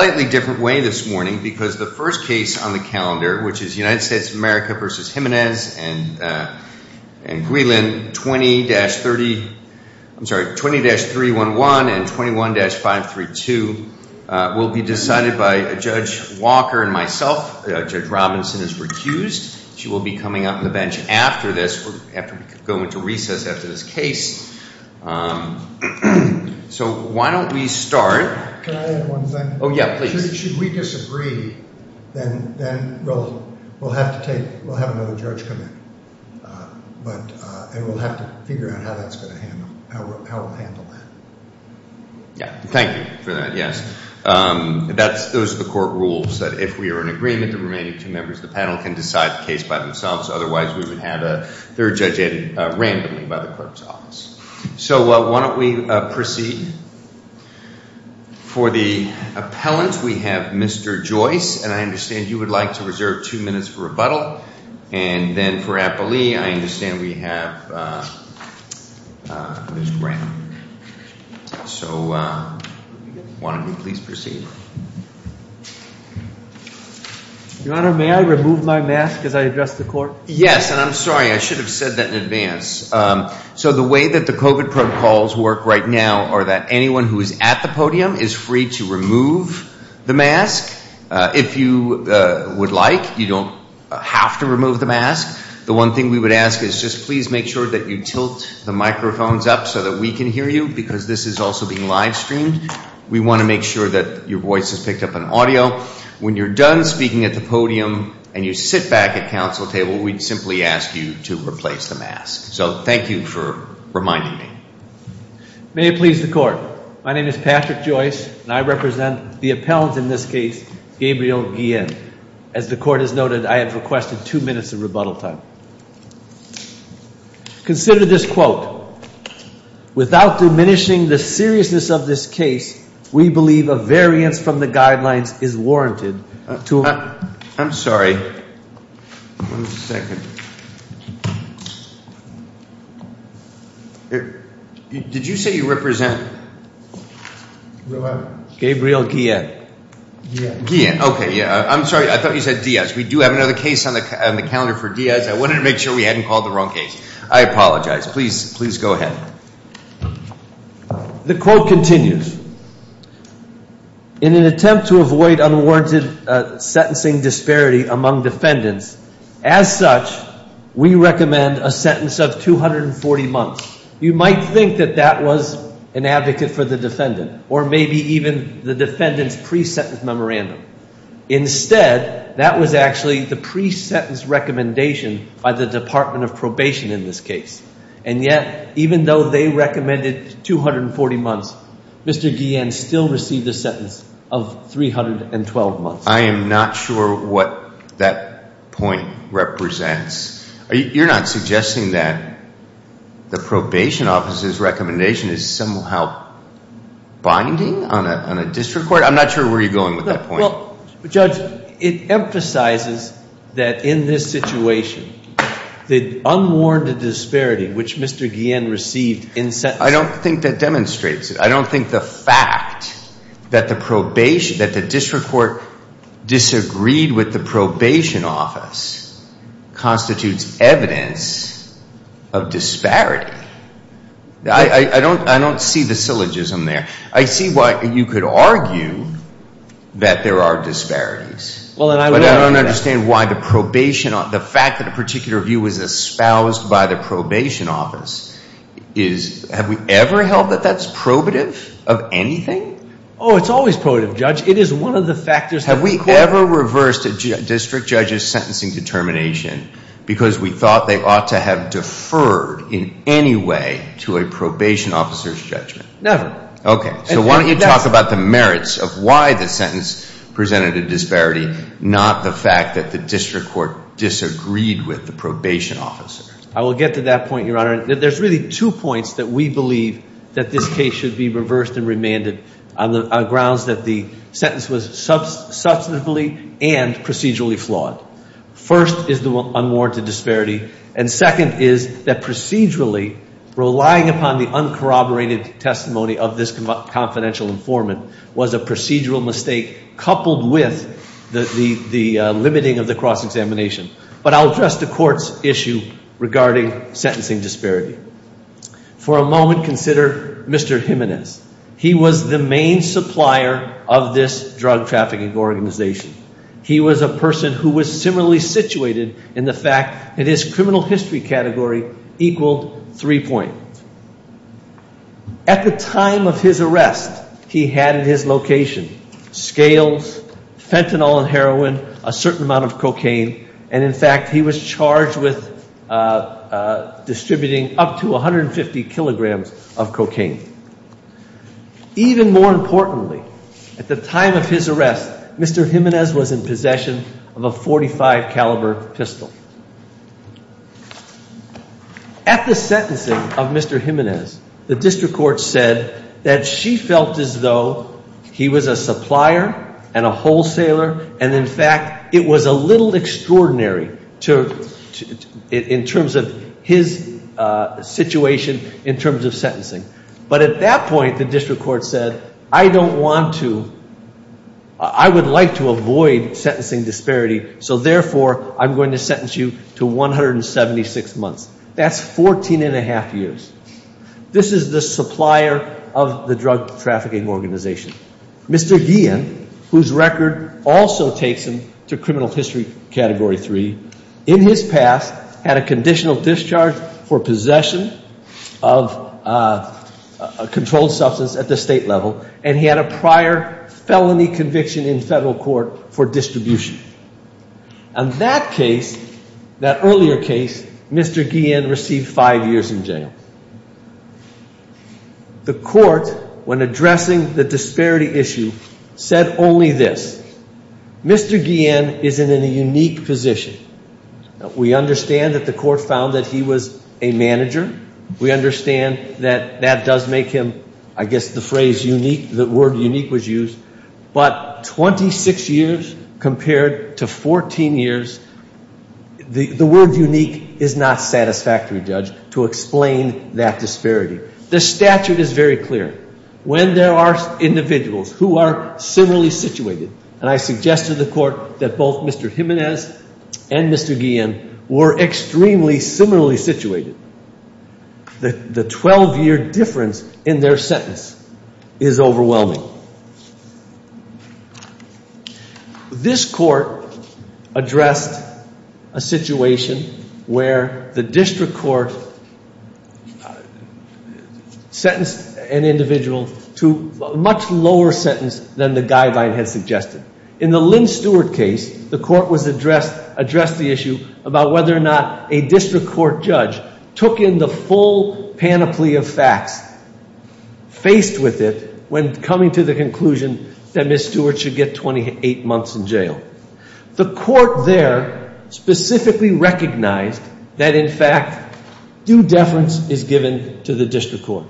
20-311 and 21-532 will be decided by Judge Walker and myself. Judge Robinson is recused. She will be coming up to the bench after this, going into recess after this case. So, why don't we start, should we disagree, then we'll have to take, we'll have another judge come in, and we'll have to figure out how that's going to handle, how we'll handle that. Yeah, thank you for that, yes. That's, those are the court rules, that if we are in agreement, the remaining two members of the panel can decide the case by themselves, otherwise we would have a third judge in randomly by the clerk's office. So, why don't we proceed. For the appellant, we have Mr. Joyce, and I understand you would like to reserve two minutes for rebuttal, and then for appellee, I understand we have Ms. Brown. So, why don't we please proceed. Your Honor, may I remove my mask as I address the court? Yes, and I'm sorry, I should have said that in advance. So, the way that the COVID protocols work right now are that anyone who is at the podium is free to remove the mask. If you would like, you don't have to remove the mask. The one thing we would ask is just please make sure that you tilt the microphones up so that we can hear you, because this is also being live streamed. We want to make sure that your voice is picked up on audio. When you're done speaking at the podium, and you sit back at council table, we'd simply ask you to replace the mask. So, thank you for reminding me. May it please the court. My name is Patrick Joyce, and I represent the appellant in this case, Gabriel Guillen. As the court has noted, I have requested two minutes of rebuttal time. Consider this quote. Without diminishing the seriousness of this case, we believe a variance from the guidelines is warranted. I'm sorry. One second. Did you say you represent? Gabriel Guillen. I'm sorry. I thought you said Diaz. We do have another case on the calendar for Diaz. I wanted to make sure we hadn't called the wrong case. I apologize. Please go ahead. The quote continues. In an attempt to avoid unwarranted sentencing disparity among defendants, as such, we recommend a sentence of 240 months. You might think that that was an advocate for the defendant, or maybe even the defendant's pre-sentence memorandum. Instead, that was actually the pre-sentence recommendation by the Department of Probation in this case. And yet, even though they recommended 240 months, Mr. Guillen still received a sentence of 312 months. I am not sure what that point represents. You're not suggesting that the probation officer's recommendation is somehow binding on a district court? I'm not sure where you're going with that point. Well, Judge, it emphasizes that in this situation, the unwarranted disparity which Mr. Guillen received in sentencing... ...disagreed with the probation office constitutes evidence of disparity. I don't see the syllogism there. I see why you could argue that there are disparities. But I don't understand why the fact that a particular view was espoused by the probation office... Have we ever held that that's probative of anything? Oh, it's always probative, Judge. It is one of the factors... Have we ever reversed a district judge's sentencing determination because we thought they ought to have deferred in any way to a probation officer's judgment? Never. Okay. So why don't you talk about the merits of why the sentence presented a disparity, not the fact that the district court disagreed with the probation officer? I will get to that point, Your Honor. There's really two points that we believe that this case should be reversed and remanded on grounds that the sentence was substantively and procedurally flawed. First is the unwarranted disparity, and second is that procedurally, relying upon the uncorroborated testimony of this confidential informant was a procedural mistake coupled with the limiting of the cross-examination. But I'll address the court's issue regarding sentencing disparity. For a moment, consider Mr. Jimenez. He was the main supplier of this drug trafficking organization. He was a person who was similarly situated in the fact that his criminal history category equaled three points. At the time of his arrest, he had in his location scales, fentanyl and heroin, a certain amount of cocaine, and in fact, he was charged with distributing up to 150 kilograms of cocaine. Even more importantly, at the time of his arrest, Mr. Jimenez was in possession of a .45 caliber pistol. At the sentencing of Mr. Jimenez, the district court said that she felt as though he was a supplier and a wholesaler, and in fact, it was a little extraordinary in terms of his situation in terms of sentencing. But at that point, the district court said, I don't want to, I would like to avoid sentencing disparity, so therefore, I'm going to sentence you to 176 months. That's 14 and a half years. This is the supplier of the drug trafficking organization. Mr. Guillen, whose record also takes him to criminal history category three, in his past had a conditional discharge for possession of a controlled substance at the state level, and he had a prior felony conviction in federal court for distribution. On that case, that earlier case, Mr. Guillen received five years in jail. The court, when addressing the disparity issue, said only this, Mr. Guillen is in a unique position. We understand that the court found that he was a manager. We understand that that does make him, I guess the phrase unique, the word unique was used. But 26 years compared to 14 years, the word unique is not satisfactory, Judge, to explain that disparity. The statute is very clear. When there are individuals who are similarly situated, and I suggested to the court that both Mr. Jimenez and Mr. Guillen were extremely similarly situated, the 12-year difference in their sentence is overwhelming. This court addressed a situation where the district court sentenced an individual to a much lower sentence than the guideline had suggested. In the Lynn Stewart case, the court addressed the issue about whether or not a district court judge took in the full panoply of facts faced with it when coming to the conclusion that Ms. Stewart should get 28 months in jail. The court there specifically recognized that, in fact, due deference is given to the district court.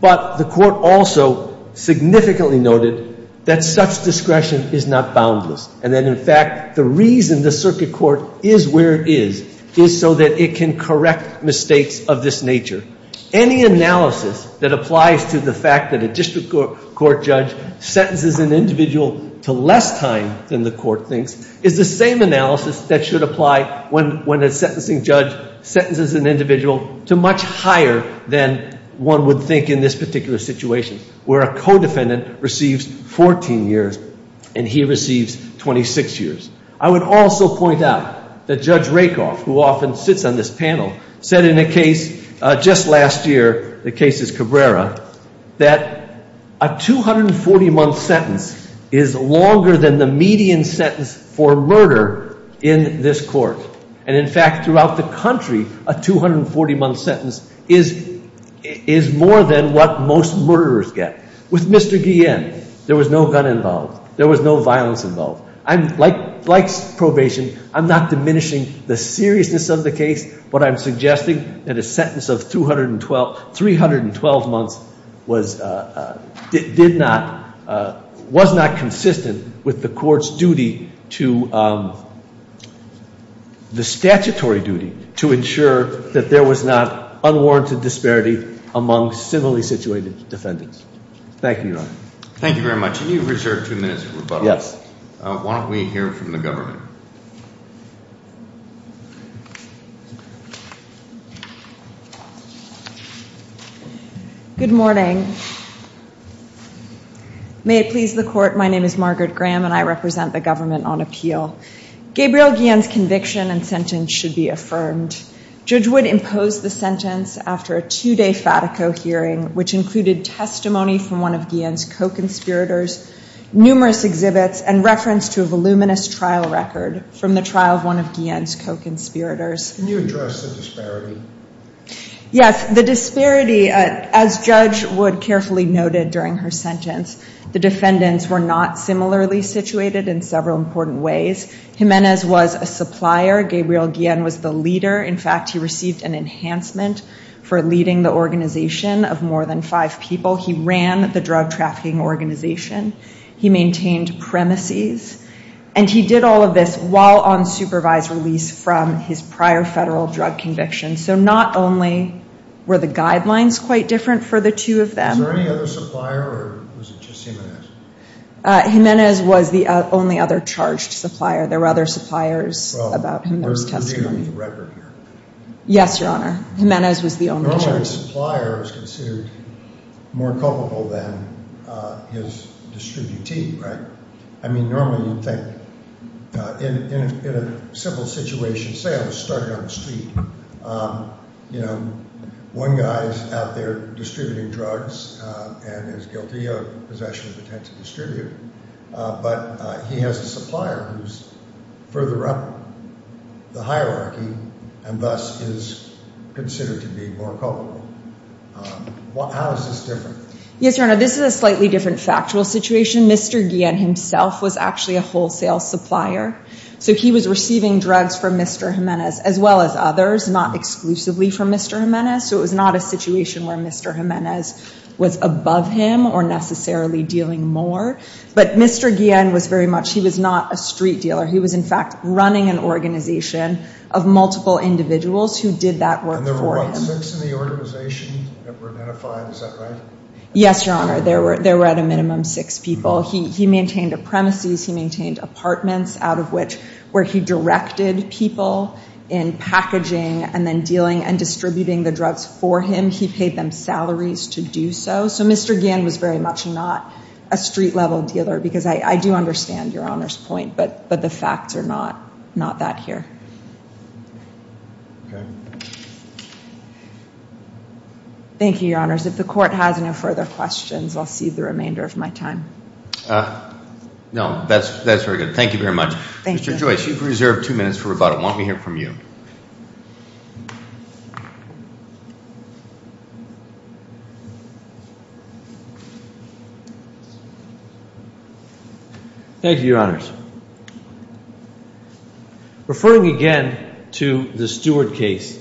But the court also significantly noted that such discretion is not boundless, and that, in fact, the reason the circuit court is where it is is so that it can correct mistakes of this nature. Any analysis that applies to the fact that a district court judge sentences an individual to less time than the court thinks is the same analysis that should apply when a sentencing judge sentences an individual to much higher than one would think in this particular situation, where a co-defendant receives 14 years and he receives 26 years. I would also point out that Judge Rakoff, who often sits on this panel, said in a case just last year, the case is Cabrera, that a 240-month sentence is longer than the median sentence for murder in this court. And, in fact, throughout the country, a 240-month sentence is more than what most murderers get. With Mr. Guillén, there was no gun involved. There was no violence involved. Like probation, I'm not diminishing the seriousness of the case, but I'm suggesting that a sentence of 312 months was not consistent with the statutory duty to ensure that there was not unwarranted disparity among civilly situated defendants. Thank you very much. Can you reserve two minutes for rebuttal? Yes. Why don't we hear from the government? Good morning. May it please the court, my name is Margaret Graham and I represent the government on appeal. Gabriel Guillén's conviction and sentence should be affirmed. Judge Wood imposed the sentence after a two-day Fatico hearing, which included testimony from one of Guillén's co-conspirators, numerous exhibits, and reference to a voluminous trial record from the trial of one of Guillén's co-conspirators. Yes, the disparity, as Judge Wood carefully noted during her sentence, the defendants were not similarly situated in several important ways. Jiménez was a supplier. Gabriel Guillén was the leader. In fact, he received an enhancement for leading the organization of more than five people. He ran the drug trafficking organization. He maintained premises. And he did all of this while on supervised release from his prior federal drug conviction. So not only were the guidelines quite different for the two of them. Was there any other supplier or was it just Jiménez? Jiménez was the only other charged supplier. There were other suppliers about whom there was testimony. Well, we're dealing with a record here. Yes, Your Honor. Jiménez was the only charge. Normally a supplier is considered more culpable than his distributee, right? I mean, normally you'd think, in a simple situation, say I was starting on the street. You know, one guy is out there distributing drugs and is guilty of possession of a potential distributee. But he has a supplier who's further up the hierarchy and thus is considered to be more culpable. How is this different? Yes, Your Honor, this is a slightly different factual situation. Mr. Guillén himself was actually a wholesale supplier. So he was receiving drugs from Mr. Jiménez as well as others, not exclusively from Mr. Jiménez. So it was not a situation where Mr. Jiménez was above him or necessarily dealing more. But Mr. Guillén was very much, he was not a street dealer. He was, in fact, running an organization of multiple individuals who did that work for him. And there were, what, six in the organization that were identified, is that right? Yes, Your Honor, there were at a minimum six people. He maintained a premises, he maintained apartments out of which, where he directed people in packaging and then dealing and distributing the drugs for him. He paid them salaries to do so. So Mr. Guillén was very much not a street-level dealer. Because I do understand Your Honor's point, but the facts are not that here. Okay. Thank you, Your Honors. If the Court has no further questions, I'll cede the remainder of my time. No, that's very good. Thank you very much. Thank you. Mr. Joyce, you've reserved two minutes for rebuttal. Why don't we hear from you? Thank you, Your Honors. Referring again to the Stewart case,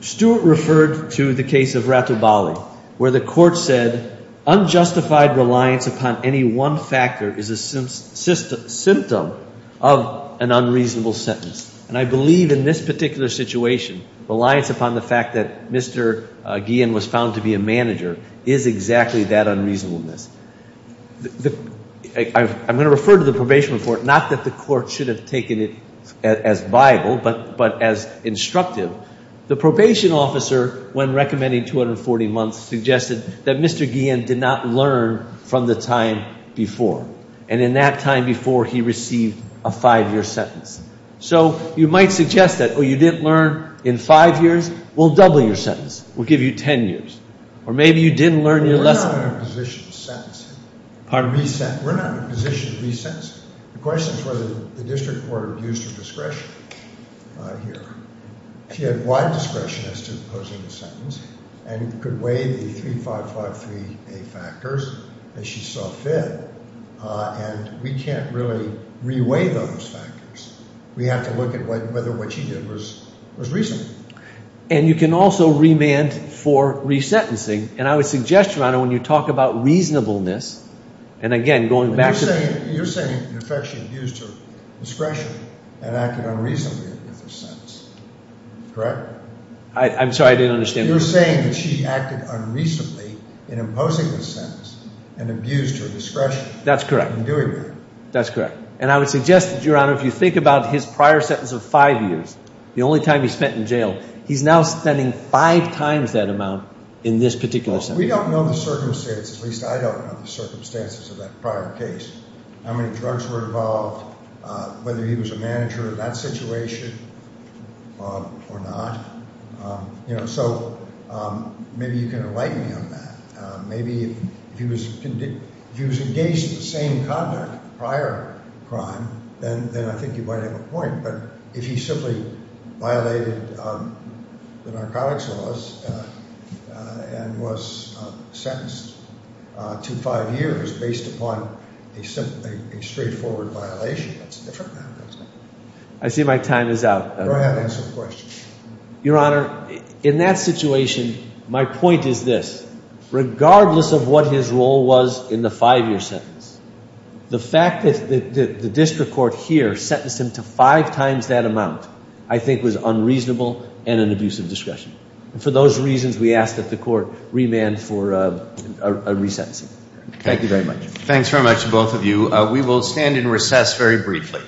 Stewart referred to the case of Ratobali, where the Court said unjustified reliance upon any one factor is a symptom of an unreasonable sentence. And I believe in this particular situation, reliance upon the fact that Mr. Guillén was found to be a manager is exactly that unreasonableness. I'm going to refer to the probation report, not that the Court should have taken it as viable, but as instructive. The probation officer, when recommending 240 months, suggested that Mr. Guillén did not learn from the time before. And in that time before, he received a five-year sentence. So you might suggest that, oh, you didn't learn in five years? We'll double your sentence. Or maybe you didn't learn your lesson. We're not in a position to sentence him. We're not in a position to re-sentence him. The question is whether the District Court abused her discretion here. She had wide discretion as to imposing the sentence and could weigh the 3553A factors that she saw fit. And we can't really re-weigh those factors. We have to look at whether what she did was reasonable. And you can also remand for re-sentencing. And I would suggest, Your Honor, when you talk about reasonableness, and again, going back to the... You're saying, in effect, she abused her discretion and acted unreasonably with her sentence. Correct? I'm sorry, I didn't understand. You're saying that she acted unreasonably in imposing the sentence and abused her discretion. That's correct. In doing that. That's correct. And I would suggest that, Your Honor, if you think about his prior sentence of five years, the only time he spent in jail, he's now spending five times that amount in this particular sentence. Well, we don't know the circumstances, at least I don't know the circumstances of that prior case. How many drugs were involved, whether he was a manager of that situation or not. You know, so maybe you can enlighten me on that. Maybe if he was engaged in the same conduct, prior crime, then I think you might have a point. But if he simply violated the narcotics laws and was sentenced to five years based upon a straightforward violation, that's a different matter, isn't it? I see my time is out. Go ahead, answer the question. Your Honor, in that situation, my point is this. Regardless of what his role was in the five-year sentence, the fact that the district court here sentenced him to five times that amount I think was unreasonable and an abuse of discretion. And for those reasons, we ask that the court remand for a resentencing. Thank you very much. Thanks very much, both of you. We will stand in recess very briefly.